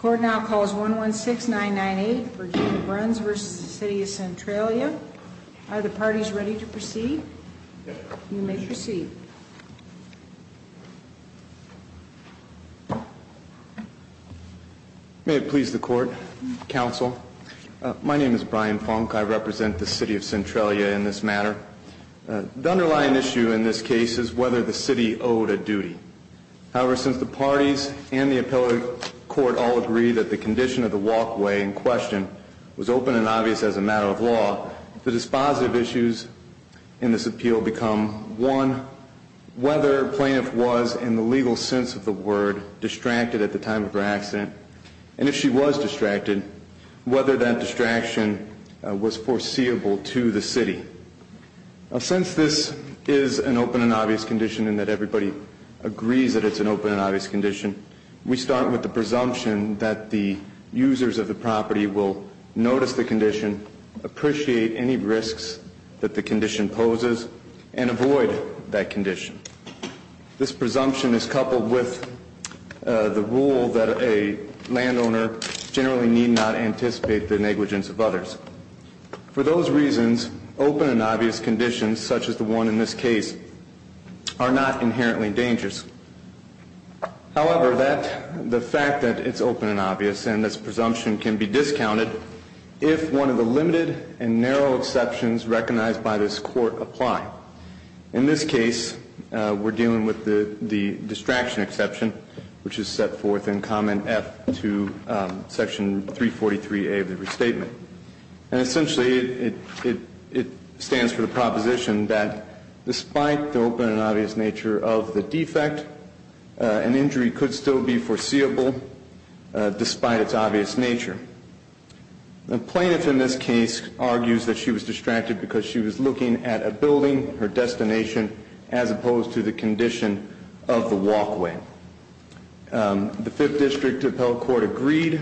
Court now calls 116-998 Virginia Bruns v. City of Centralia. Are the parties ready to proceed? You may proceed. May it please the court, counsel. My name is Brian Funk. I represent the city of Centralia in this matter. However, since the parties and the appellate court all agree that the condition of the walkway in question was open and obvious as a matter of law, the dispositive issues in this appeal become, one, whether plaintiff was, in the legal sense of the word, distracted at the time of her accident, and if she was distracted, whether that distraction was foreseeable to the city. Since this is an open and obvious condition and that everybody agrees that it's an open and obvious condition, we start with the presumption that the users of the property will notice the condition, appreciate any risks that the condition poses, and avoid that condition. This presumption is coupled with the rule that a landowner generally need not anticipate the negligence of others. For those reasons, open and obvious conditions, such as the one in this case, are not inherently dangerous. However, the fact that it's open and obvious and this presumption can be discounted if one of the limited and narrow exceptions recognized by this court apply. In this case, we're dealing with the distraction exception, which is set forth in comment F to section 343A of the restatement. And essentially, it stands for the proposition that despite the open and obvious nature of the defect, an injury could still be foreseeable despite its obvious nature. The plaintiff in this case argues that she was distracted because she was looking at a building, her destination, as opposed to the condition of the walkway. The Fifth District Appellate Court agreed,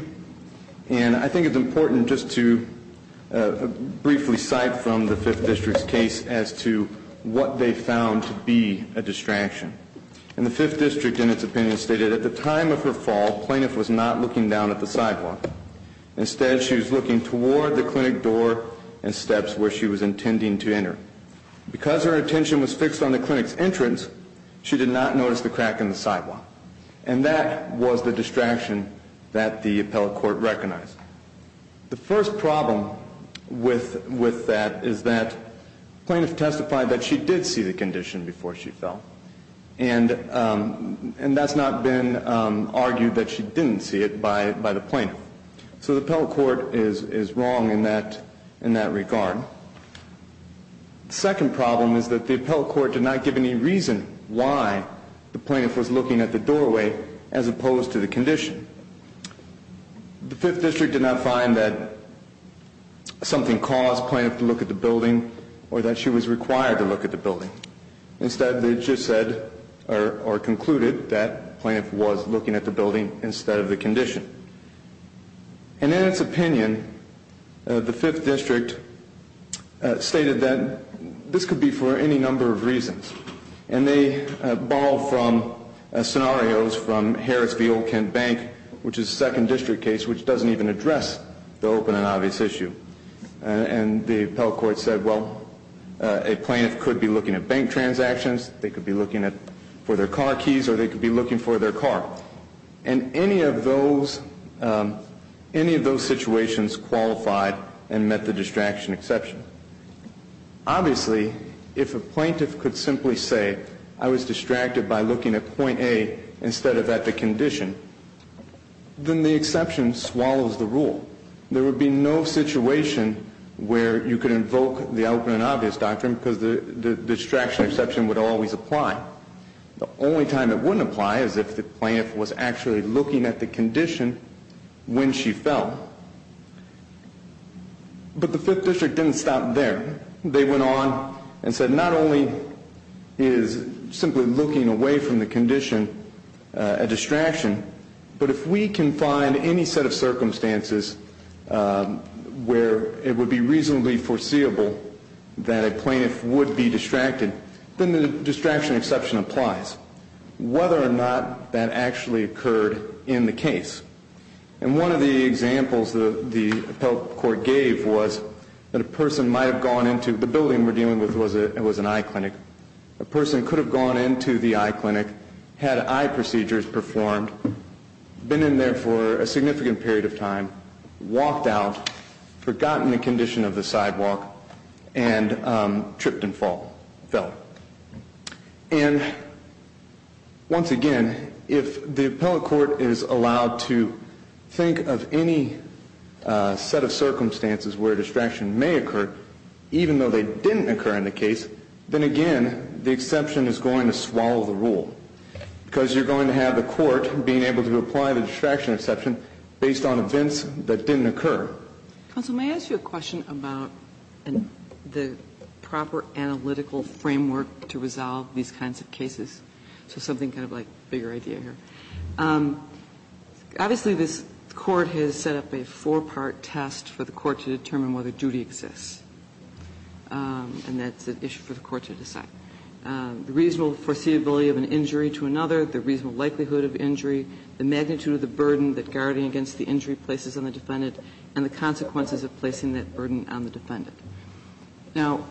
and I think it's important just to briefly cite from the Fifth District's case as to what they found to be a distraction. And the Fifth District, in its opinion, stated at the time of her fall, plaintiff was not looking down at the sidewalk. Instead, she was looking toward the clinic door and steps where she was intending to enter. Because her attention was fixed on the clinic's entrance, she did not notice the crack in the sidewalk. And that was the distraction that the appellate court recognized. The first problem with that is that plaintiff testified that she did see the condition before she fell. And that's not been argued that she didn't see it by the plaintiff. So the appellate court is wrong in that regard. The second problem is that the appellate court did not give any reason why the plaintiff was looking at the doorway as opposed to the condition. The Fifth District did not find that something caused plaintiff to look at the building or that she was required to look at the building. Instead, they just said or concluded that plaintiff was looking at the building instead of the condition. And in its opinion, the Fifth District stated that this could be for any number of reasons. And they borrow from scenarios from Harris v. Old Kent Bank, which is a second district case which doesn't even address the open and obvious issue. And the appellate court said, well, a plaintiff could be looking at bank transactions, they could be looking for their car keys, or they could be looking for their car. And any of those situations qualified and met the distraction exception. Obviously, if a plaintiff could simply say, I was distracted by looking at point A instead of at the condition, then the exception swallows the rule. There would be no situation where you could invoke the open and obvious doctrine because the distraction exception would always apply. The only time it wouldn't apply is if the plaintiff was actually looking at the condition when she fell. But the Fifth District didn't stop there. They went on and said not only is simply looking away from the condition a distraction, but if we can find any set of circumstances where it would be reasonably foreseeable that a plaintiff would be distracted, then the distraction exception applies. Whether or not that actually occurred in the case. And one of the examples that the appellate court gave was that a person might have gone into, the building we're dealing with was an eye clinic, a person could have gone into the eye clinic, had eye procedures performed, been in there for a significant period of time, walked out, forgotten the condition of the sidewalk, and tripped and fell. And once again, if the appellate court is allowed to think of any set of circumstances where distraction may occur, even though they didn't occur in the case, then again, the exception is going to swallow the rule. Because you're going to have the court being able to apply the distraction exception based on events that didn't occur. Kagan. Kagan. Kagan. Counsel, may I ask you a question about the proper analytical framework to resolve these kinds of cases? So something kind of like bigger idea here. Obviously, this Court has set up a four-part test for the Court to determine whether duty exists, and that's an issue for the Court to decide. The reasonable foreseeability of an injury to another, the reasonable likelihood of injury, the magnitude of the burden that guarding against the injury places on the defendant, and the consequences of placing that burden on the defendant. Now,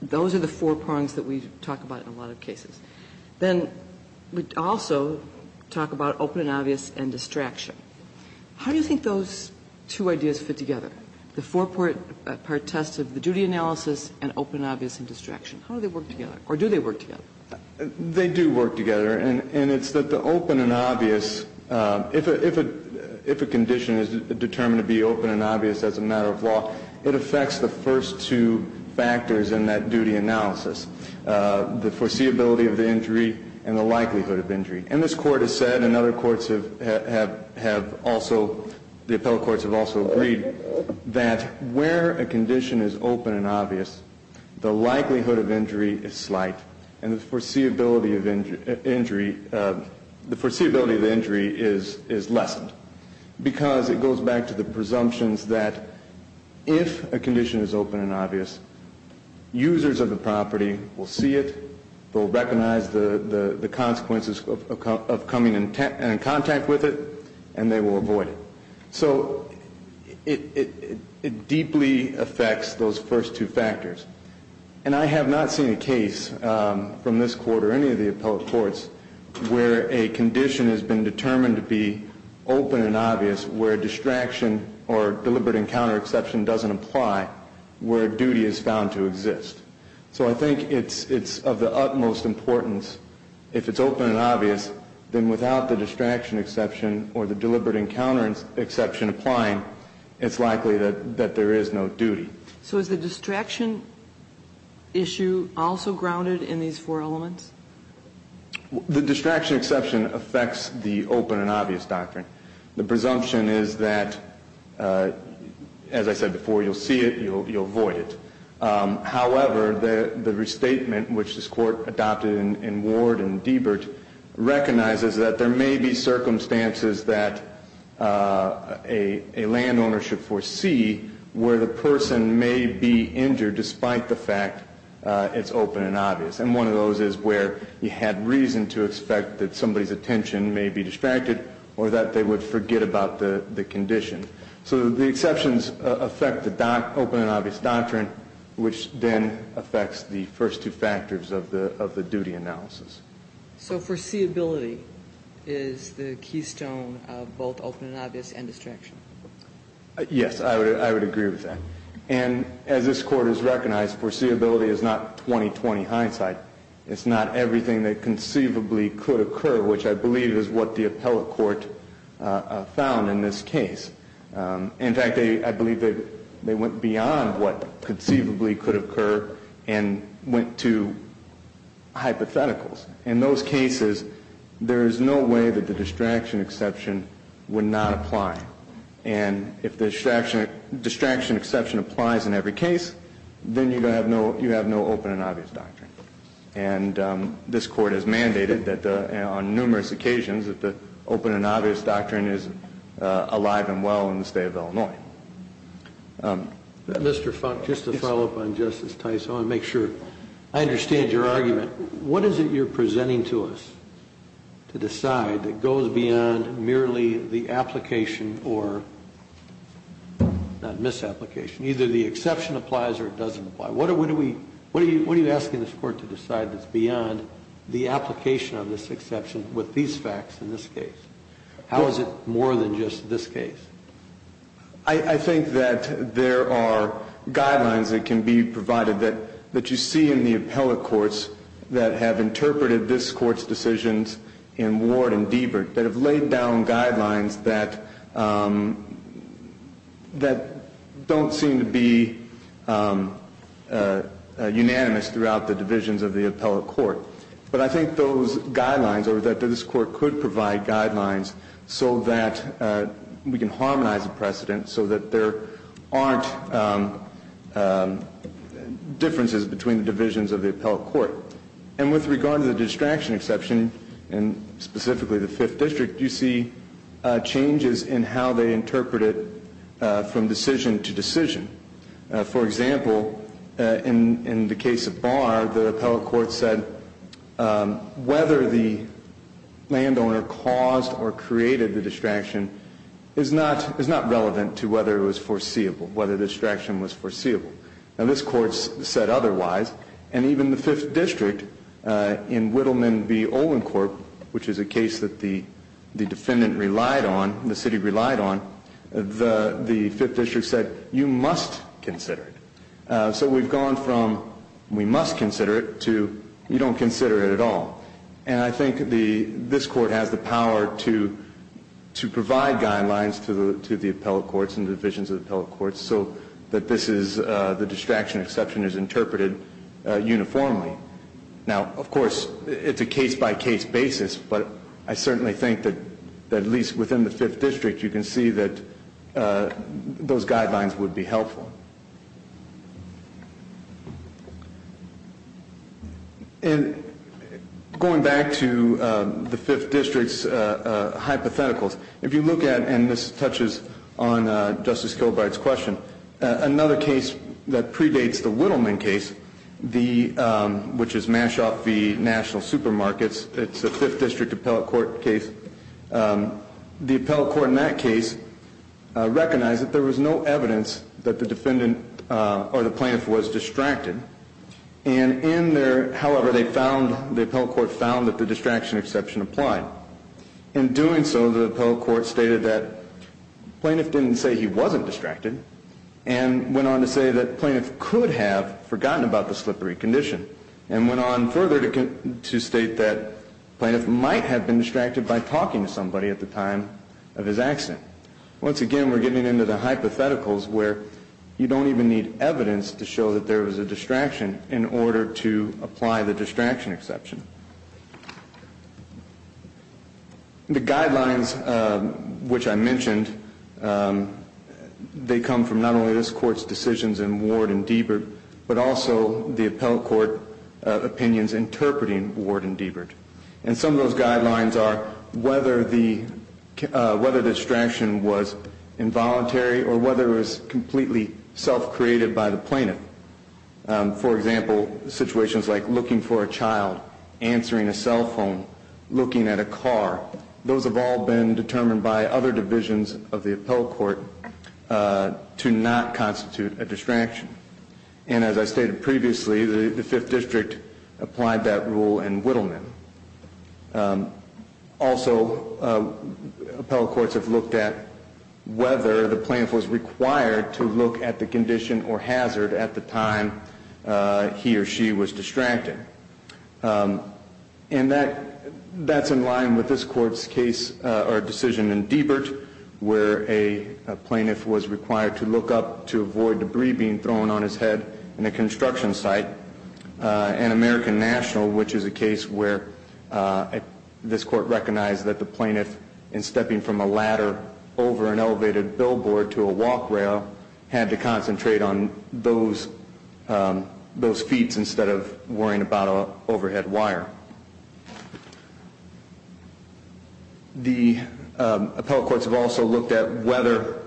those are the four prongs that we talk about in a lot of cases. Then we also talk about open and obvious and distraction. How do you think those two ideas fit together? The four-part test of the duty analysis and open and obvious and distraction. How do they work together, or do they work together? They do work together, and it's that the open and obvious, if a condition is determined to be open and obvious as a matter of law, it affects the first two factors in that duty analysis, the foreseeability of the injury and the likelihood of injury. And this Court has said, and other courts have also, the appellate courts have also agreed that where a condition is open and obvious, the likelihood of injury is slight, and the foreseeability of injury is lessened. Because it goes back to the presumptions that if a condition is open and obvious, users of the property will see it, they'll recognize the consequences of coming in contact with it, and they will avoid it. So it deeply affects those first two factors. And I have not seen a case from this Court or any of the appellate courts where a condition has been determined to be open and obvious, where distraction or deliberate encounter exception doesn't apply, where duty is found to exist. So I think it's of the utmost importance, if it's open and obvious, then without the distraction exception applying, it's likely that there is no duty. So is the distraction issue also grounded in these four elements? The distraction exception affects the open and obvious doctrine. The presumption is that, as I said before, you'll see it, you'll avoid it. However, the restatement, which this Court adopted in Ward and Deibert, recognizes that there may be circumstances that a landowner should foresee where the person may be injured despite the fact it's open and obvious. And one of those is where you had reason to expect that somebody's attention may be distracted or that they would forget about the condition. So the exceptions affect the open and obvious doctrine, which then affects the first two factors of the duty analysis. So foreseeability is the keystone of both open and obvious and distraction? Yes, I would agree with that. And as this Court has recognized, foreseeability is not 20-20 hindsight. It's not everything that conceivably could occur, which I believe is what the appellate court found in this case. In fact, I believe that they went beyond what conceivably could occur and went to hypotheticals. In those cases, there is no way that the distraction exception would not apply. And if the distraction exception applies in every case, then you have no open and obvious doctrine. And this Court has mandated that on numerous occasions that the open and obvious doctrine is alive and well in the state of Illinois. Mr. Funk, just to follow up on Justice Tice, I want to make sure I understand your argument. What is it you're presenting to us to decide that goes beyond merely the application or not misapplication, either the exception applies or it doesn't apply? What are you asking this Court to decide that's beyond the application of this exception with these facts in this case? How is it more than just this case? I think that there are guidelines that can be provided that you see in the appellate courts that have interpreted this court's decisions in Ward and Deibert that have laid down guidelines that don't seem to be unanimous throughout the divisions of the appellate court. But I think those guidelines or that this court could provide guidelines so that we can harmonize the precedent so that there aren't differences between the divisions of the appellate court. And with regard to the distraction exception, and specifically the Fifth District, you see changes in how they interpret it from decision to decision. For example, in the case of Barr, the appellate court said whether the landowner caused or created the distraction is not relevant to whether it was foreseeable, whether the distraction was foreseeable. Now this court said otherwise, and even the Fifth District in Whittleman v. Olincorp, which is a case that the defendant relied on, the city relied on, the Fifth District said, you must consider it. So we've gone from we must consider it to you don't consider it at all. And I think this court has the power to provide guidelines to the appellate courts and divisions of the appellate courts so that the distraction exception is interpreted uniformly. Now, of course, it's a case by case basis, but I certainly think that at least within the Fifth District, you can see that those guidelines would be helpful. And going back to the Fifth District's hypotheticals, if you look at, and this touches on Justice Kilbride's question, another case that predates the Whittleman case, which is Mashoff v. National Supermarkets. It's a Fifth District appellate court case. The appellate court in that case recognized that there was no evidence that the defendant or the plaintiff was distracted. And in there, however, the appellate court found that the distraction exception applied. In doing so, the appellate court stated that plaintiff didn't say he wasn't distracted. And went on to say that plaintiff could have forgotten about the slippery condition. And went on further to state that plaintiff might have been distracted by talking to somebody at the time of his accident. Once again, we're getting into the hypotheticals where you don't even need evidence to show that there was a distraction in order to apply the distraction exception. The guidelines which I mentioned, they come from not only this court's decisions in Ward and Deibert, but also the appellate court opinions interpreting Ward and Deibert. And some of those guidelines are whether the distraction was involuntary or whether it was completely self-created by the plaintiff. For example, situations like looking for a child, answering a cell phone, looking at a car. Those have all been determined by other divisions of the appellate court to not constitute a distraction. And as I stated previously, the fifth district applied that rule in Whittleman. Also, appellate courts have looked at whether the plaintiff was required to look at the condition or hazard at the time he or she was distracted. And that's in line with this court's case or decision in Deibert, where a plaintiff was required to look up to avoid debris being thrown on his head in a construction site. And American National, which is a case where this court recognized that the plaintiff, in stepping from a ladder over an elevated billboard to a walk rail, had to concentrate on those feats instead of worrying about a overhead wire. The appellate courts have also looked at whether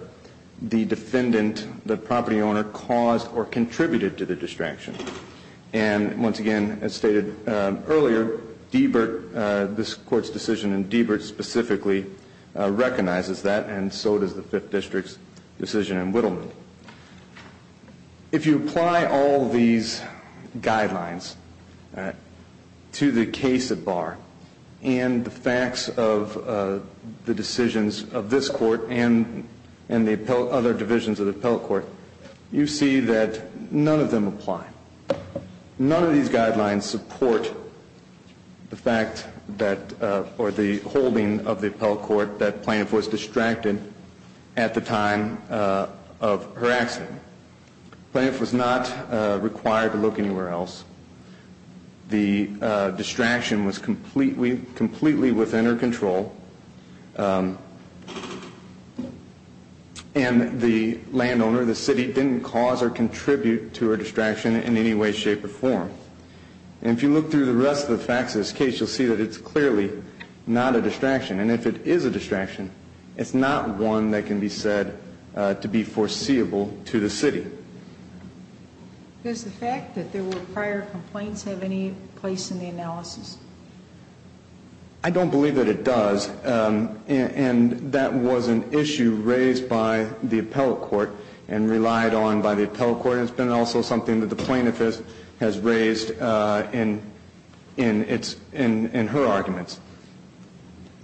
the defendant, the property owner, caused or contributed to the distraction. And once again, as stated earlier, Deibert, this court's decision in Deibert specifically recognizes that, and so does the fifth district's decision in Whittleman. If you look through the case at bar, and the facts of the decisions of this court, and the other divisions of the appellate court, you see that none of them apply. None of these guidelines support the fact that, or the holding of the appellate court that plaintiff was distracted at the time of her accident. Plaintiff was not required to look anywhere else. The distraction was completely within her control. And the landowner, the city, didn't cause or contribute to her distraction in any way, shape, or form. And if you look through the rest of the facts of this case, you'll see that it's clearly not a distraction. And if it is a distraction, it's not one that can be said to be foreseeable to the city. Does the fact that there were prior complaints have any place in the analysis? I don't believe that it does, and that was an issue raised by the appellate court and relied on by the appellate court, and it's been also something that the plaintiff has raised in her arguments.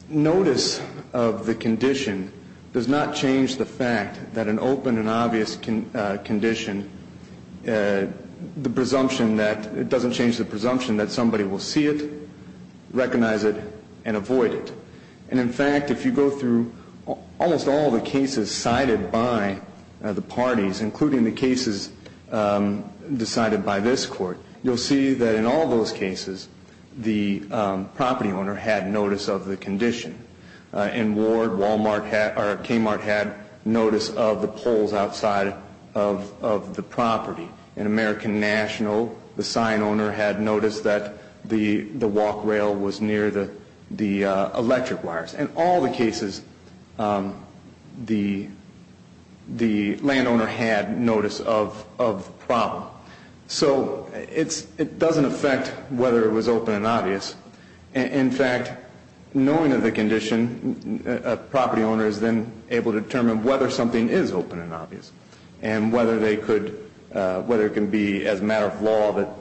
Notice of the condition does not change the fact that an open and obvious condition, the presumption that, it doesn't change the presumption that somebody will see it, recognize it, and avoid it. And in fact, if you go through almost all the cases cited by the parties, including the cases decided by this court, you'll see that in all those cases, the property owner had notice of the condition. In Ward, Kmart had notice of the poles outside of the property. In American National, the sign owner had notice that the walk rail was near the electric wires. In all the cases, the landowner had notice of the problem. So it doesn't affect whether it was open and obvious. In fact, knowing of the condition, a property owner is then able to determine whether something is open and obvious. And whether it can be, as a matter of law,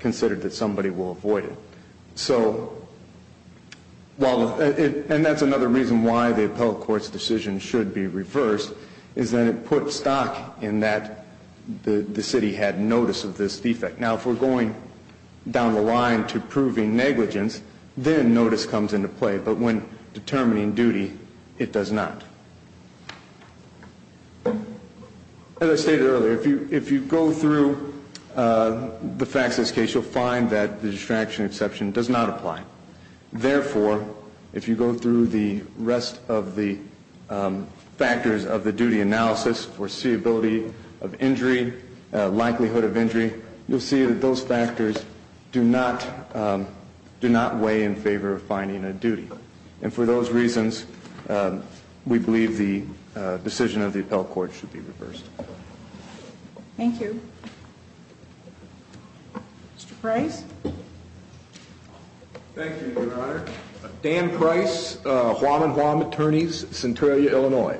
considered that somebody will avoid it. So, and that's another reason why the appellate court's decision should be reversed, is that it put stock in that the city had notice of this defect. Now, if we're going down the line to proving negligence, then notice comes into play. But when determining duty, it does not. As I stated earlier, if you go through the facts of this case, you'll find that the distraction exception does not apply. Therefore, if you go through the rest of the factors of the duty analysis, foreseeability of injury, likelihood of injury, you'll see that those factors do not weigh in favor of finding a duty. And for those reasons, we believe the decision of the appellate court should be reversed. Thank you. Mr. Price? Thank you, Your Honor. Dan Price, Hwaman Hwam Attorneys, Centralia, Illinois.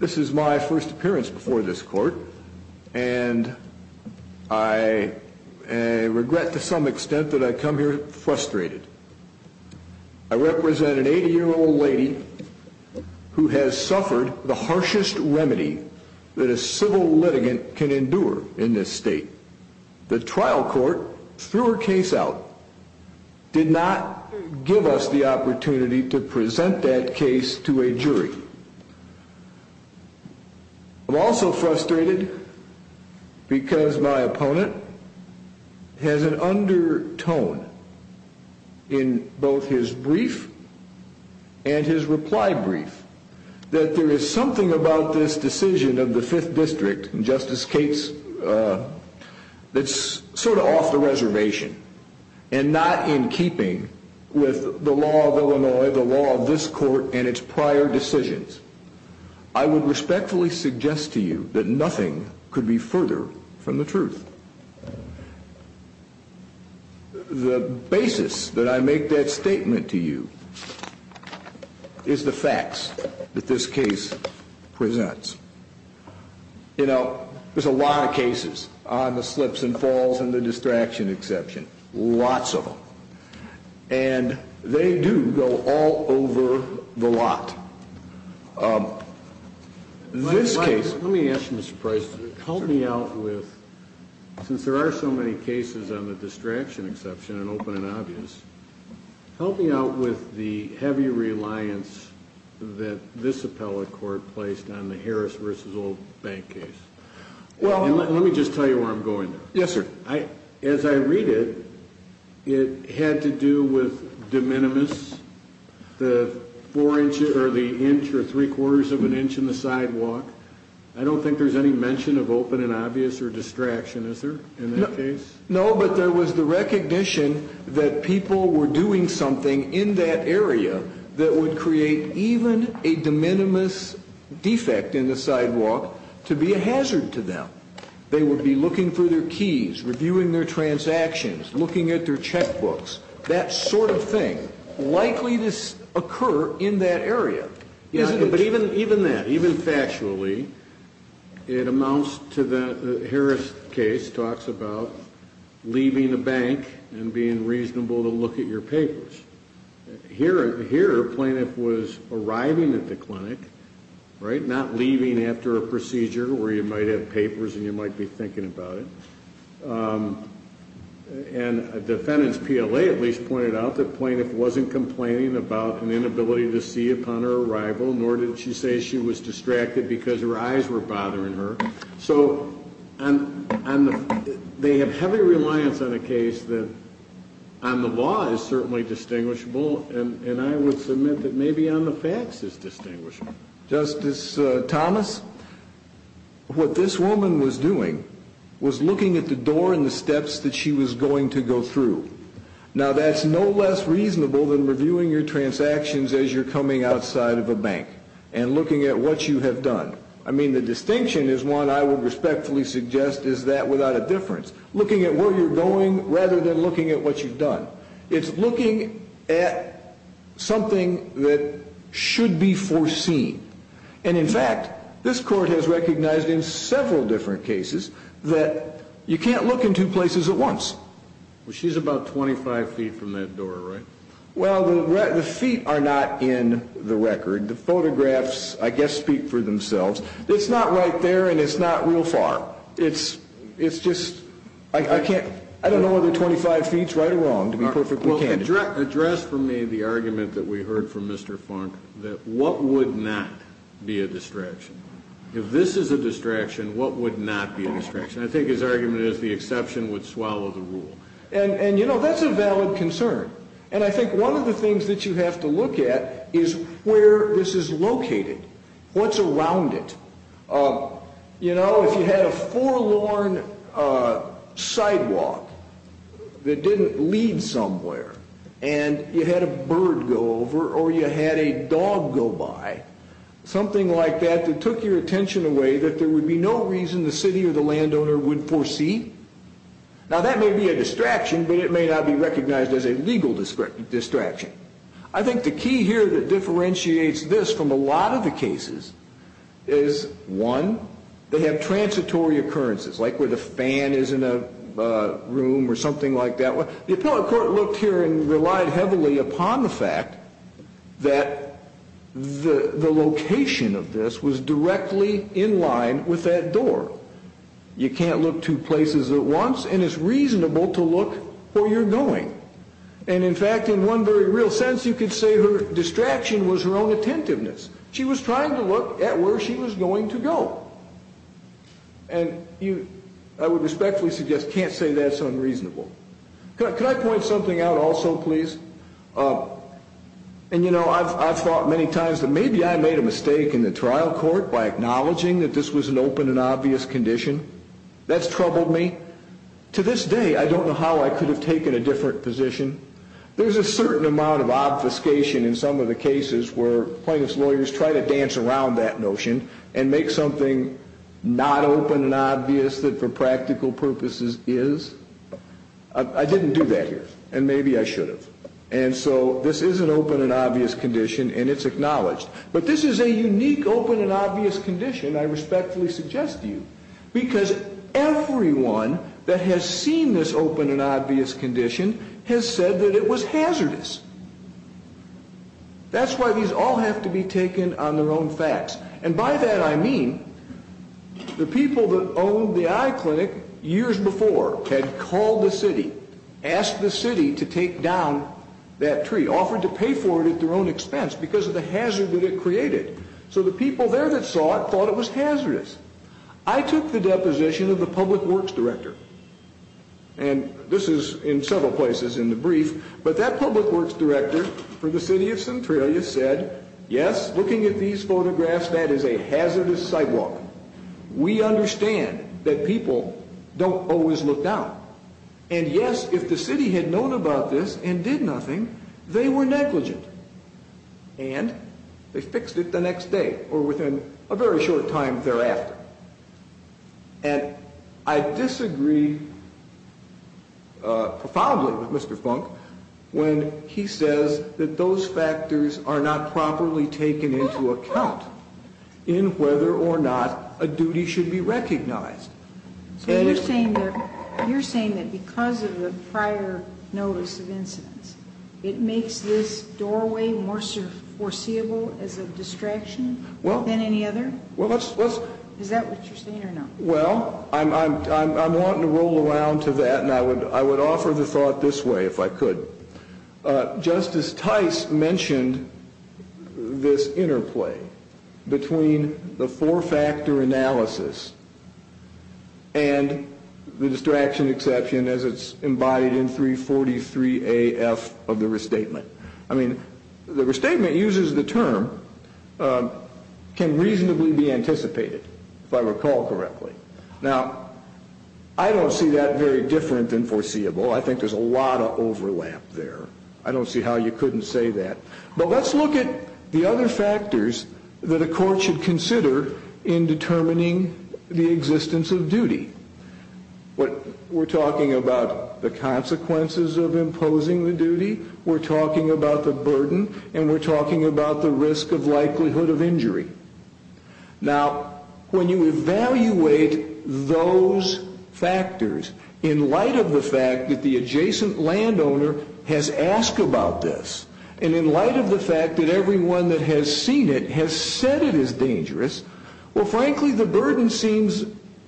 This is my first appearance before this court, and I regret to some extent that I come here frustrated. I represent an 80 year old lady who has suffered the harshest remedy that a civil litigant can endure in this state. The trial court threw her case out, did not give us the opportunity to present that case to a jury. I'm also frustrated because my opponent has an undertone in both his brief and his reply brief. That there is something about this decision of the Fifth District, and Justice Cates, that's sort of off the reservation. And not in keeping with the law of Illinois, the law of this court, and its prior decisions. I would respectfully suggest to you that nothing could be further from the truth. The basis that I make that statement to you is the facts that this case presents. You know, there's a lot of cases on the slips and falls and the distraction exception, lots of them. And they do go all over the lot. This case- Since there are so many cases on the distraction exception and open and obvious, help me out with the heavy reliance that this appellate court placed on the Harris versus Old Bank case. And let me just tell you where I'm going. Yes, sir. As I read it, it had to do with de minimis, the four inch or the inch or three quarters of an inch in the sidewalk. I don't think there's any mention of open and obvious or distraction, is there, in that case? No, but there was the recognition that people were doing something in that area that would create even a de minimis defect in the sidewalk to be a hazard to them. They would be looking for their keys, reviewing their transactions, looking at their checkbooks, that sort of thing, likely to occur in that area. Yeah, but even that, even factually, it amounts to the Harris case, talks about leaving the bank and being reasonable to look at your papers. Here, a plaintiff was arriving at the clinic, right, not leaving after a procedure where you might have papers and you might be thinking about it. And a defendant's PLA at least pointed out that plaintiff wasn't complaining about an inability to see upon her arrival, nor did she say she was distracted because her eyes were bothering her. So they have heavy reliance on a case that on the law is certainly distinguishable, and I would submit that maybe on the facts is distinguishable. Justice Thomas, what this woman was doing was looking at the door and the steps that she was going to go through. Now, that's no less reasonable than reviewing your transactions as you're coming outside of a bank and looking at what you have done. I mean, the distinction is one I would respectfully suggest is that without a difference. Looking at where you're going rather than looking at what you've done. It's looking at something that should be foreseen. And in fact, this court has recognized in several different cases that you can't look in two places at once. Well, she's about 25 feet from that door, right? Well, the feet are not in the record. The photographs, I guess, speak for themselves. It's not right there and it's not real far. It's just, I don't know whether 25 feet's right or wrong, to be perfectly candid. Address for me the argument that we heard from Mr. Funk, that what would not be a distraction? If this is a distraction, what would not be a distraction? I think his argument is the exception would swallow the rule. And that's a valid concern. And I think one of the things that you have to look at is where this is located. What's around it? If you had a forlorn sidewalk that didn't lead somewhere. And you had a bird go over or you had a dog go by. Something like that that took your attention away, that there would be no reason the city or the landowner would foresee. Now, that may be a distraction, but it may not be recognized as a legal distraction. I think the key here that differentiates this from a lot of the cases is, one, they have transitory occurrences, like where the fan is in a room or something like that. The appellate court looked here and relied heavily upon the fact that the location of this was directly in line with that door. You can't look two places at once. And it's reasonable to look where you're going. And in fact, in one very real sense, you could say her distraction was her own attentiveness. She was trying to look at where she was going to go. And I would respectfully suggest, can't say that's unreasonable. Could I point something out also, please? And I've thought many times that maybe I made a mistake in the trial court by acknowledging that this was an open and obvious condition. That's troubled me. To this day, I don't know how I could have taken a different position. There's a certain amount of obfuscation in some of the cases where plaintiff's try to dance around that notion and make something not open and obvious that for practical purposes is. I didn't do that here. And maybe I should have. And so this is an open and obvious condition. And it's acknowledged. But this is a unique open and obvious condition, I respectfully suggest to you. Because everyone that has seen this open and obvious condition has said that it was hazardous. That's why these all have to be taken on their own facts. And by that, I mean the people that owned the eye clinic years before had called the city, asked the city to take down that tree, offered to pay for it at their own expense because of the hazard that it created. So the people there that saw it thought it was hazardous. I took the deposition of the public works director. And this is in several places in the brief. But that public works director for the city of Centralia said, yes, looking at these photographs, that is a hazardous sidewalk. We understand that people don't always look down. And yes, if the city had known about this and did nothing, they were negligent. And they fixed it the next day or within a very short time thereafter. And I disagree profoundly with Mr. Funk when he says that those factors are not properly taken into account in whether or not a duty should be recognized. So you're saying that because of the prior notice of incidents, it makes this doorway more foreseeable as a distraction than any other? Is that what you're saying or not? Well, I'm wanting to roll around to that, and I would offer the thought this way if I could. Justice Tice mentioned this interplay between the four factor analysis and the distraction exception as it's embodied in 343 AF of the restatement. I mean, the restatement uses the term can reasonably be anticipated, if I recall correctly. Now, I don't see that very different than foreseeable. I think there's a lot of overlap there. I don't see how you couldn't say that. But let's look at the other factors that a court should consider in determining the existence of duty. What we're talking about, the consequences of imposing the duty. We're talking about the burden, and we're talking about the risk of likelihood of injury. Now, when you evaluate those factors, in light of the fact that the adjacent landowner has asked about this. And in light of the fact that everyone that has seen it has said it is dangerous. Well, frankly, the burden seems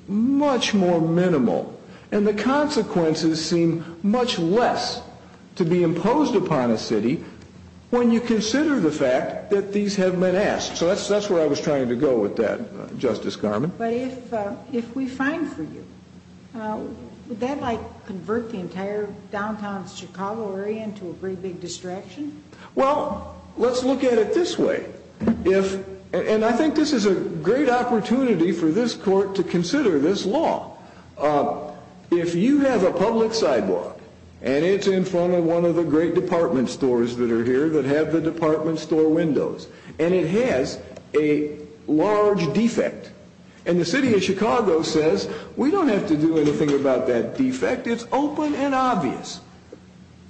much more minimal. And the consequences seem much less to be imposed upon a city when you consider the fact that these have been asked. So that's where I was trying to go with that, Justice Garmon. But if we find for you, would that like convert the entire downtown Chicago area into a very big distraction? Well, let's look at it this way. If, and I think this is a great opportunity for this court to consider this law, if you have a public sidewalk and it's in front of one of the great department stores that are here that have the department store windows, and it has a large defect. And the city of Chicago says, we don't have to do anything about that defect. It's open and obvious.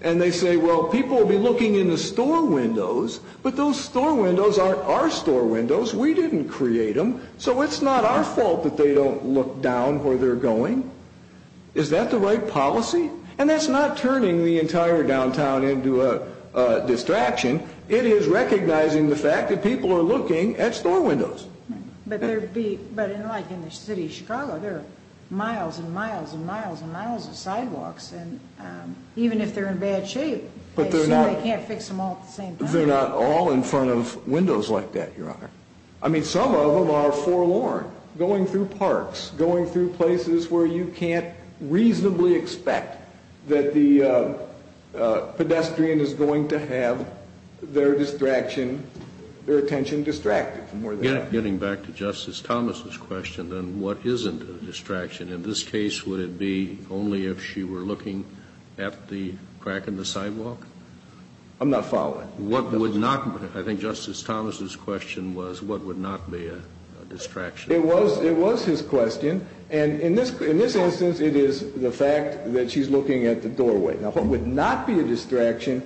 And they say, well, people will be looking in the store windows, but those store windows aren't our store windows. We didn't create them. So it's not our fault that they don't look down where they're going. Is that the right policy? And that's not turning the entire downtown into a distraction. It is recognizing the fact that people are looking at store windows. But like in the city of Chicago, there are miles and miles and miles and miles of sidewalks. And even if they're in bad shape, they can't fix them all at the same time. They're not all in front of windows like that, Your Honor. I mean, some of them are forlorn. Going through parks, going through places where you can't reasonably expect that the pedestrian is going to have their distraction, their attention distracted from where they are. Getting back to Justice Thomas's question, then what isn't a distraction? In this case, would it be only if she were looking at the crack in the sidewalk? I'm not following. What would not, I think Justice Thomas's question was, what would not be a distraction? It was his question. And in this instance, it is the fact that she's looking at the doorway. Now, what would not be a distraction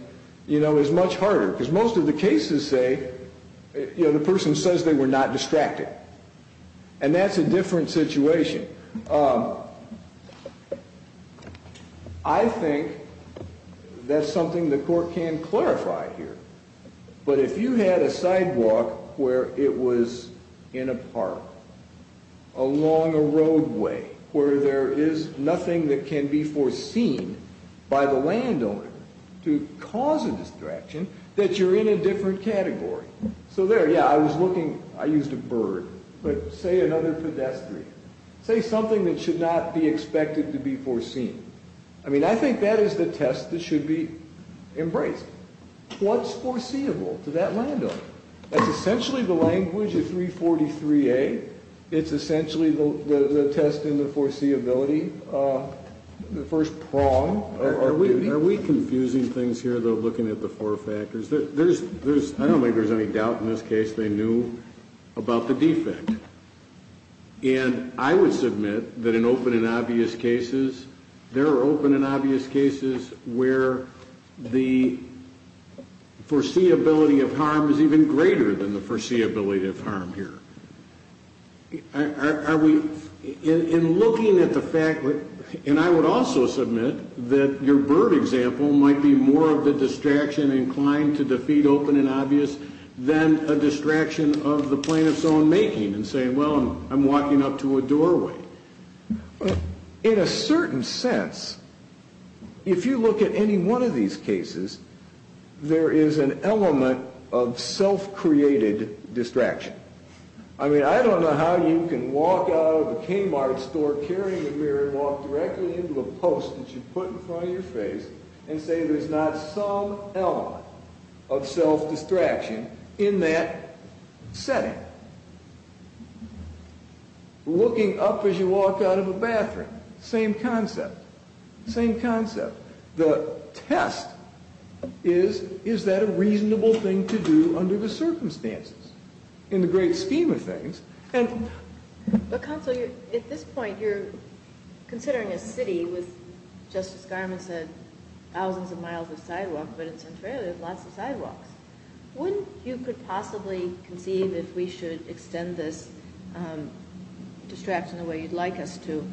is much harder. Because most of the cases say, the person says they were not distracted. And that's a different situation. I think that's something the court can clarify here. But if you had a sidewalk where it was in a park, along a roadway, where there is nothing that can be foreseen by the landowner to cause a distraction, that you're in a different category. So there, yeah, I was looking. I used a bird. But say another pedestrian. Say something that should not be expected to be foreseen. I mean, I think that is the test that should be embraced. What's foreseeable to that landowner? That's essentially the language of 343A. It's essentially the test in the foreseeability, the first prong. Are we confusing things here, though, looking at the four factors? I don't think there's any doubt in this case they knew about the defect. And I would submit that in open and obvious cases, there are open and obvious cases where the foreseeability of harm is even greater than the foreseeability of harm here. Are we, in looking at the fact, and I would also submit that your bird example might be more of the distraction inclined to defeat open and obvious than a distraction of the plaintiff's own making. And saying, well, I'm walking up to a doorway. In a certain sense, if you look at any one of these cases, there is an element of self-created distraction. I mean, I don't know how you can walk out of a Kmart store, carry a mirror, walk directly into a post that you put in front of your face, and say there's not some element of self-distraction in that setting. Looking up as you walk out of a bathroom, same concept. Same concept. The test is, is that a reasonable thing to do under the circumstances? In the great scheme of things, and- But counsel, at this point, you're considering a city with, Justice Garment said, thousands of miles of sidewalk, but it's unfair, there's lots of sidewalks. Wouldn't you could possibly conceive if we should extend this distraction the way you'd like us to,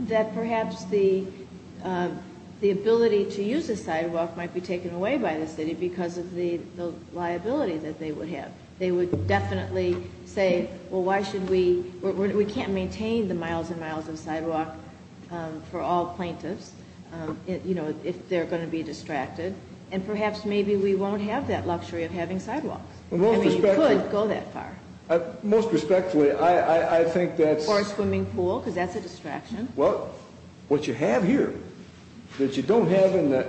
that perhaps the ability to use a sidewalk might be taken away by the city because of the liability that they would have. They would definitely say, well, why should we, we can't maintain the miles and miles of sidewalk for all plaintiffs, if they're going to be distracted. And perhaps maybe we won't have that luxury of having sidewalks. I mean, you could go that far. Most respectfully, I think that's- For a swimming pool, because that's a distraction. Well, what you have here, that you don't have in the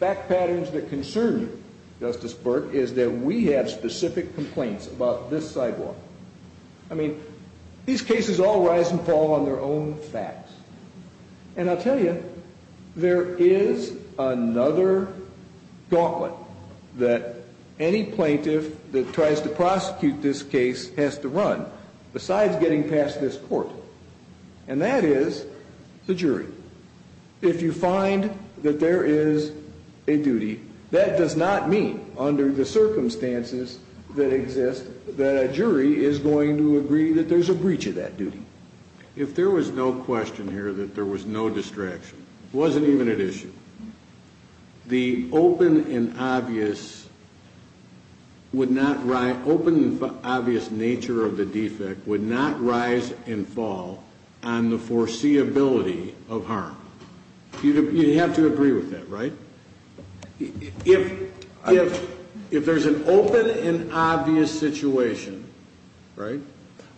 back patterns that concern you, Justice Burke, is that we have specific complaints about this sidewalk. I mean, these cases all rise and fall on their own facts. And I'll tell you, there is another gauntlet that any plaintiff that tries to prosecute this case has to run, besides getting past this court. And that is the jury. If you find that there is a duty, that does not mean, under the circumstances that exist, that a jury is going to agree that there's a breach of that duty. If there was no question here that there was no distraction, it wasn't even an issue. The open and obvious would not, open and obvious nature of the defect would not rise and fall on the foreseeability of harm. You'd have to agree with that, right? If there's an open and obvious situation, right?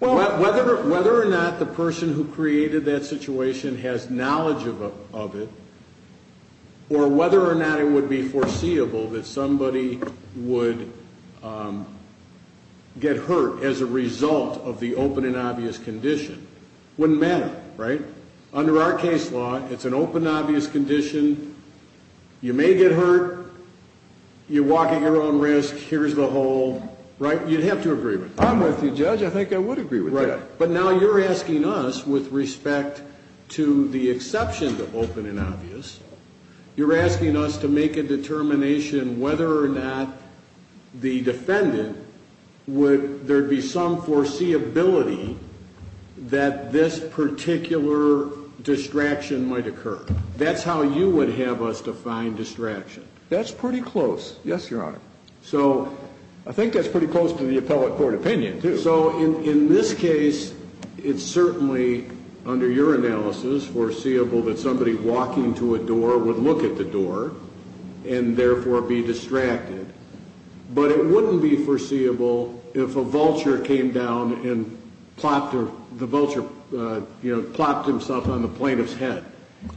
Whether or not the person who created that situation has knowledge of it, or whether or not it would be foreseeable that somebody would get hurt as a result of the open and obvious condition, wouldn't matter, right? Under our case law, it's an open and obvious condition. You may get hurt, you walk at your own risk, here's the whole, right? You'd have to agree with it. I'm with you, Judge, I think I would agree with that. Right, but now you're asking us, with respect to the exception to open and obvious, you're asking us to make a determination whether or not the defendant would, there'd be some foreseeability that this particular distraction might occur. That's how you would have us define distraction. That's pretty close, yes, Your Honor. So I think that's pretty close to the appellate court opinion, too. So in this case, it's certainly, under your analysis, foreseeable that somebody walking to a door would look at the door and therefore be distracted. But it wouldn't be foreseeable if a vulture came down and plopped himself on the plaintiff's head,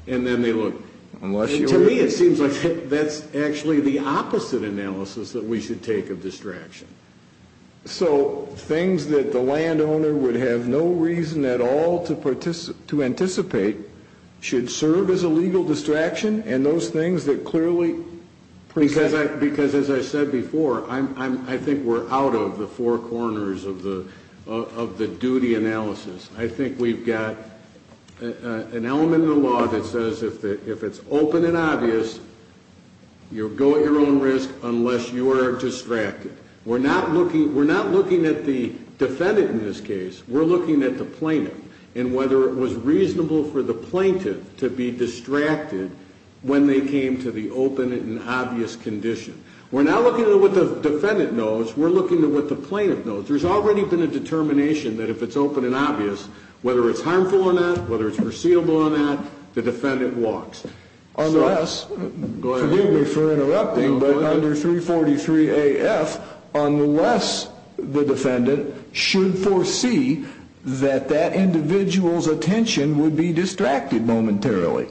and then they looked. Unless you were- To me, it seems like that's actually the opposite analysis that we should take of distraction. So things that the landowner would have no reason at all to anticipate should serve as a legal distraction, and those things that clearly present- Because as I said before, I think we're out of the four corners of the duty analysis. I think we've got an element of the law that says if it's open and obvious, you'll go at your own risk unless you are distracted. We're not looking at the defendant in this case, we're looking at the plaintiff. And whether it was reasonable for the plaintiff to be distracted when they came to the open and obvious condition. We're not looking at what the defendant knows, we're looking at what the plaintiff knows. But there's already been a determination that if it's open and obvious, whether it's harmful or not, whether it's foreseeable or not, the defendant walks. Unless, forgive me for interrupting, but under 343 AF, unless the defendant should foresee that that individual's attention would be distracted momentarily.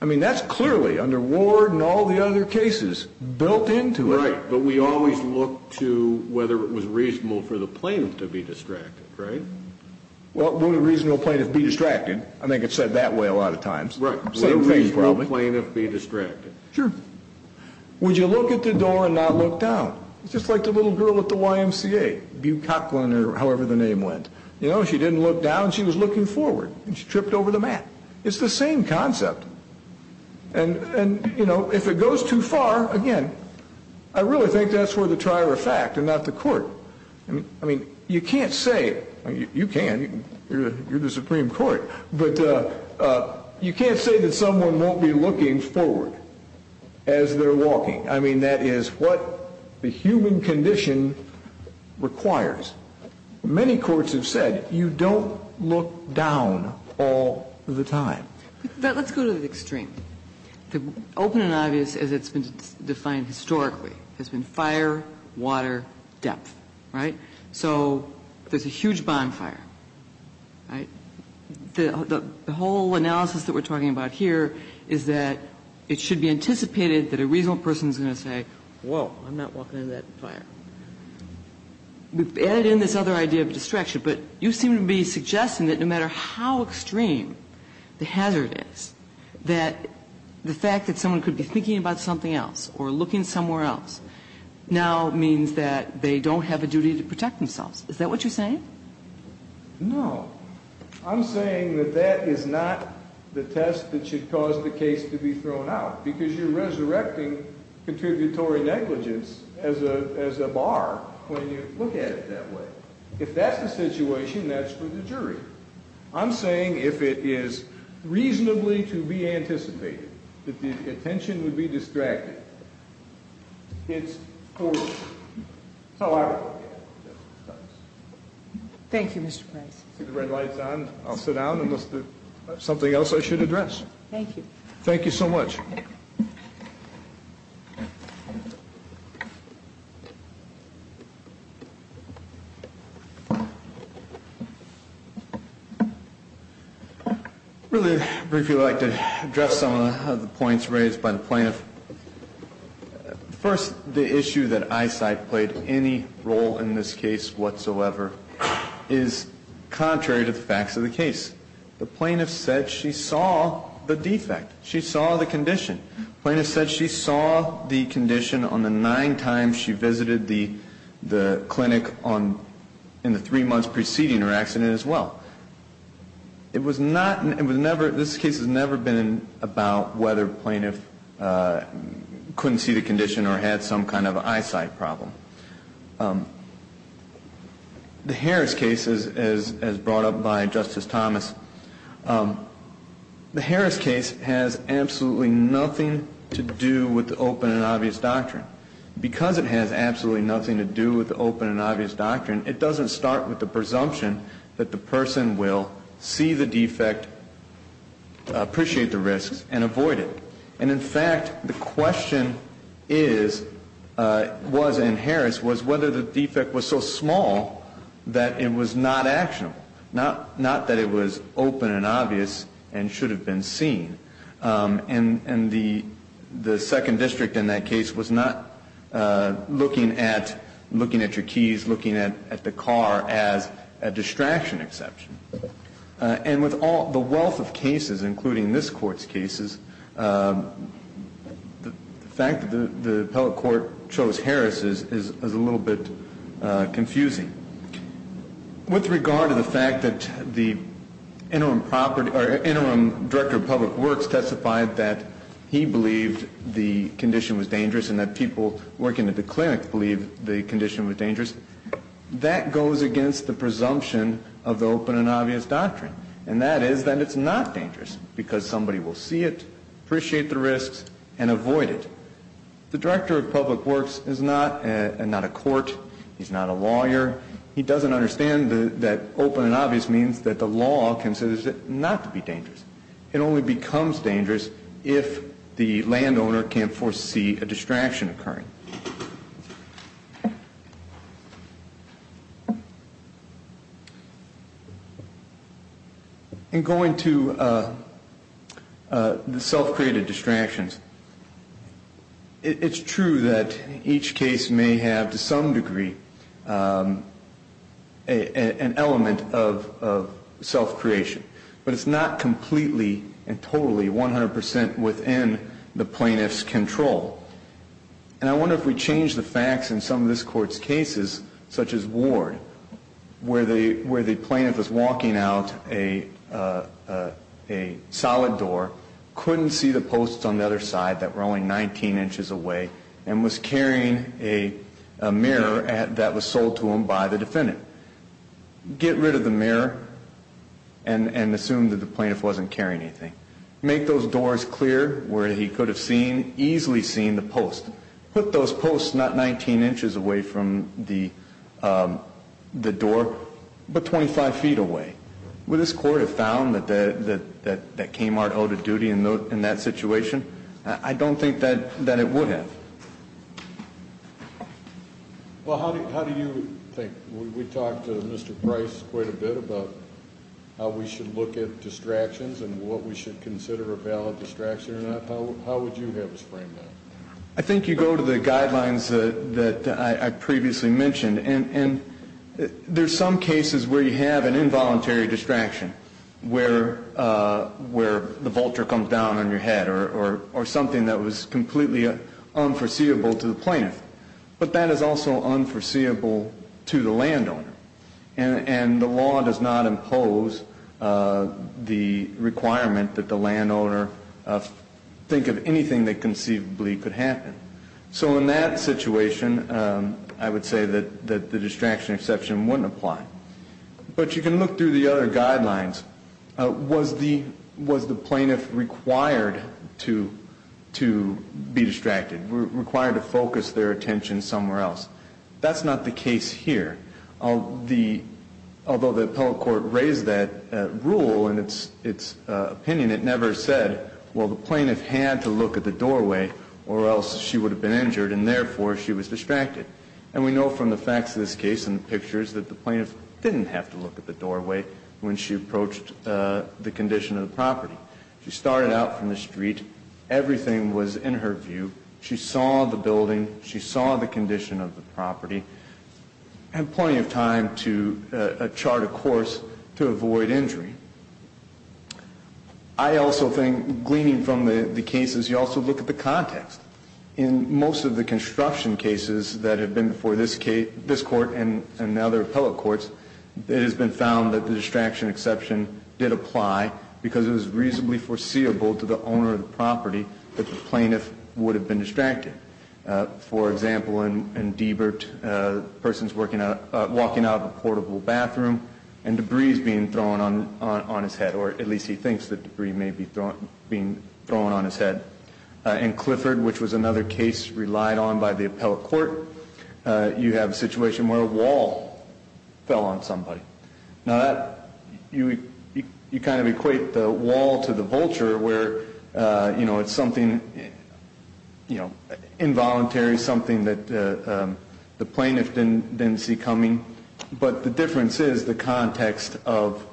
I mean, that's clearly, under Ward and all the other cases, built into it. Right, but we always look to whether it was reasonable for the plaintiff to be distracted, right? Well, wouldn't a reasonable plaintiff be distracted? I think it's said that way a lot of times. Right, wouldn't a reasonable plaintiff be distracted? Sure. Would you look at the door and not look down? It's just like the little girl at the YMCA, Bute Coughlin, or however the name went. You know, she didn't look down, she was looking forward, and she tripped over the mat. It's the same concept. And, you know, if it goes too far, again, I really think that's for the trier of fact and not the court. I mean, you can't say, you can, you're the Supreme Court, but you can't say that someone won't be looking forward as they're walking. I mean, that is what the human condition requires. Many courts have said you don't look down all the time. But let's go to the extreme. The open and obvious, as it's been defined historically, has been fire, water, depth. Right? So there's a huge bonfire. Right? The whole analysis that we're talking about here is that it should be anticipated that a reasonable person is going to say, whoa, I'm not walking into that fire. We've added in this other idea of distraction, but you seem to be suggesting that no matter how extreme the hazard is, that the fact that someone could be thinking about something else or looking somewhere else now means that they don't have a duty to protect themselves. Is that what you're saying? No. I'm saying that that is not the test that should cause the case to be thrown out, because you're resurrecting contributory negligence as a bar when you look at it that way. If that's the situation, that's for the jury. I'm saying if it is reasonably to be anticipated that the attention would be distracted, it's over. That's how I would look at it. Thank you, Mr. Price. See the red light's on. I'll sit down unless there's something else I should address. Thank you. Thank you so much. Really briefly, I'd like to address some of the points raised by the plaintiff. First, the issue that eyesight played any role in this case whatsoever is contrary to the facts of the case. The plaintiff said she saw the defect. She saw the condition. Plaintiff said she saw the condition on the nine times she visited the clinic in the three months preceding her accident as well. This case has never been about whether plaintiff couldn't see the condition or had some kind of eyesight problem. The Harris case, as brought up by Justice Thomas, the Harris case has absolutely nothing to do with the open and obvious doctrine. Because it has absolutely nothing to do with the open and obvious doctrine, it doesn't start with the presumption that the person will see the defect, appreciate the risks, and avoid it. And in fact, the question was in Harris, was whether the defect was so small that it was not actionable. Not that it was open and obvious and should have been seen. And the second district in that case was not looking at your keys, looking at the car as a distraction exception. And with all the wealth of cases, including this Court's cases, the fact that the appellate court chose Harris is a little bit confusing. With regard to the fact that the interim director of public works testified that he believed the condition was dangerous and that people working at the clinic believed the condition was dangerous, that goes against the presumption of the open and obvious doctrine. And that is that it's not dangerous because somebody will see it, appreciate the risks, and avoid it. The director of public works is not a court. He's not a lawyer. He doesn't understand that open and obvious means that the law considers it not to be dangerous. It only becomes dangerous if the landowner can't foresee a distraction occurring. Thank you. In going to the self-created distractions, it's true that each case may have to some degree an element of self-creation. But it's not completely and totally 100% within the plaintiff's control. And I wonder if we change the facts in some of this Court's cases, such as Ward, where the plaintiff was walking out a solid door, couldn't see the posts on the other side that were only 19 inches away, and was carrying a mirror that was sold to him by the defendant. Get rid of the mirror and assume that the plaintiff wasn't carrying anything. Make those doors clear where he could have easily seen the post. Put those posts not 19 inches away from the door, but 25 feet away. Would this Court have found that Kmart owed a duty in that situation? I don't think that it would have. Well, how do you think? We talked to Mr. Price quite a bit about how we should look at distractions and what we should consider a valid distraction or not. How would you have us frame that? I think you go to the guidelines that I previously mentioned. And there's some cases where you have an involuntary distraction, where the vulture comes down on your head or something that was completely unforeseeable to the plaintiff. But that is also unforeseeable to the landowner. And the law does not impose the requirement that the landowner think of anything that conceivably could happen. So in that situation, I would say that the distraction exception wouldn't apply. But you can look through the other guidelines. Was the plaintiff required to be distracted, required to focus their attention somewhere else? That's not the case here. Although the appellate court raised that rule in its opinion, it never said, well, the plaintiff had to look at the doorway or else she would have been injured, and therefore she was distracted. And we know from the facts of this case and the pictures that the plaintiff didn't have to look at the doorway when she approached the condition of the property. She started out from the street. Everything was in her view. She saw the building. She saw the condition of the property. Had plenty of time to chart a course to avoid injury. I also think, gleaning from the cases, you also look at the context. In most of the construction cases that have been before this court and other appellate courts, it has been found that the distraction exception did apply because it was reasonably foreseeable to the owner of the property that the plaintiff would have been distracted. For example, in Diebert, the person's walking out of a portable bathroom, and debris is being thrown on his head, or at least he thinks that debris may be being thrown on his head. In Clifford, which was another case relied on by the appellate court, you have a situation where a wall fell on somebody. Now, you kind of equate the wall to the vulture, where it's something involuntary, something that the plaintiff didn't see coming. But the difference is the context of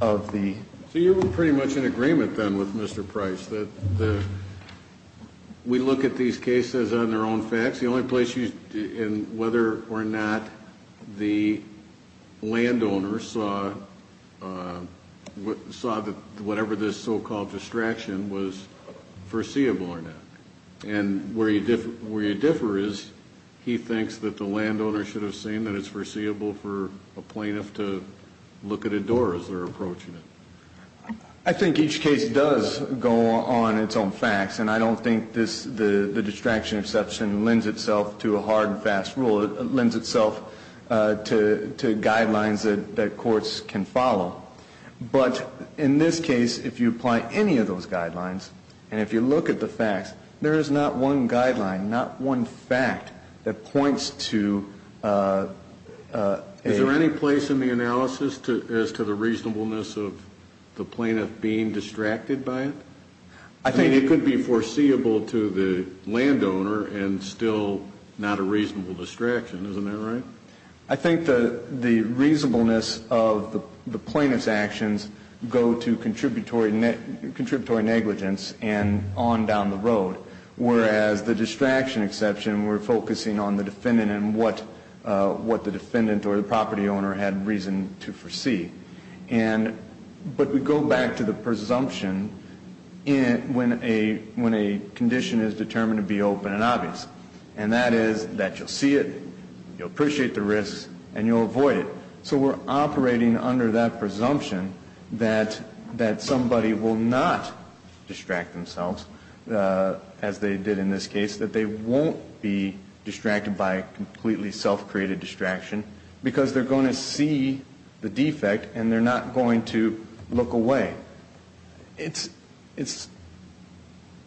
the— So you're pretty much in agreement then with Mr. Price that we look at these cases on their own facts. The only place you—and whether or not the landowner saw whatever this so-called distraction was foreseeable or not. And where you differ is he thinks that the landowner should have seen that it's foreseeable for a plaintiff to look at a door as they're approaching it. I think each case does go on its own facts, and I don't think the distraction exception lends itself to a hard and fast rule. It lends itself to guidelines that courts can follow. But in this case, if you apply any of those guidelines, and if you look at the facts, there is not one guideline, not one fact that points to a— Is there any place in the analysis as to the reasonableness of the plaintiff being distracted by it? I think— I mean, it could be foreseeable to the landowner and still not a reasonable distraction. Isn't that right? I think the reasonableness of the plaintiff's actions go to contributory negligence and on down the road, whereas the distraction exception, we're focusing on the defendant and what the defendant or the property owner had reason to foresee. But we go back to the presumption when a condition is determined to be open and obvious, and that is that you'll see it, you'll appreciate the risks, and you'll avoid it. So we're operating under that presumption that somebody will not distract themselves, as they did in this case, that they won't be distracted by a completely self-created distraction because they're going to see the defect and they're not going to look away. It's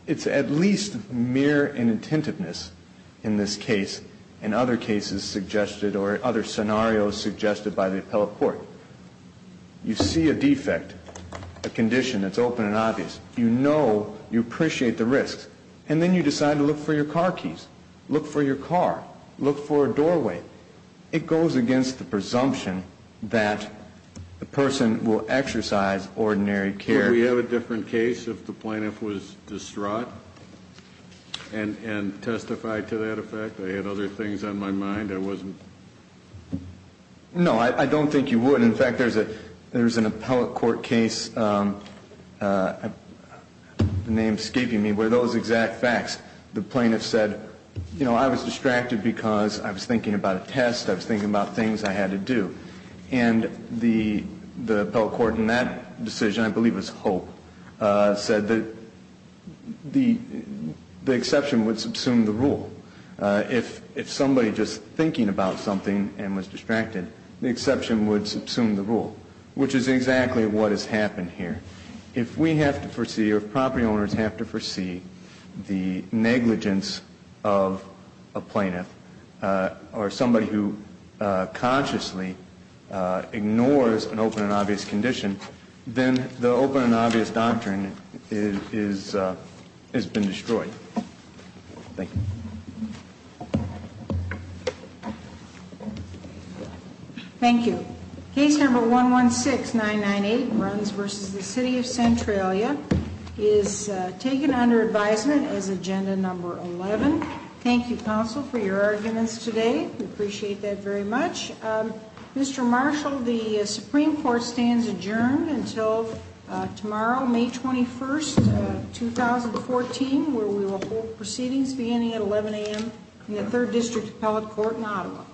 at least mere inattentiveness in this case and other cases suggested or other scenarios suggested by the appellate court. You see a defect, a condition that's open and obvious. You know you appreciate the risks, and then you decide to look for your car keys, look for your car, look for a doorway. It goes against the presumption that the person will exercise ordinary care. Could we have a different case if the plaintiff was distraught and testified to that effect? I had other things on my mind. I wasn't. No, I don't think you would. In fact, there's an appellate court case, the name's escaping me, where those exact facts, the plaintiff said, you know, I was distracted because I was thinking about a test, I was thinking about things I had to do. And the appellate court in that decision, I believe it was Hope, said that the exception would subsume the rule. If somebody just thinking about something and was distracted, the exception would subsume the rule, which is exactly what has happened here. If we have to foresee or if property owners have to foresee the negligence of a plaintiff or somebody who consciously ignores an open and obvious condition, then the open and obvious doctrine has been destroyed. Thank you. Thank you. Case number 116998, Runs v. the City of Centralia, is taken under advisement as agenda number 11. Thank you, counsel, for your arguments today. We appreciate that very much. Mr. Marshall, the Supreme Court stands adjourned until tomorrow, May 21st, 2014, where we will hold proceedings beginning at 11 a.m. in the Third District Appellate Court in Ottawa.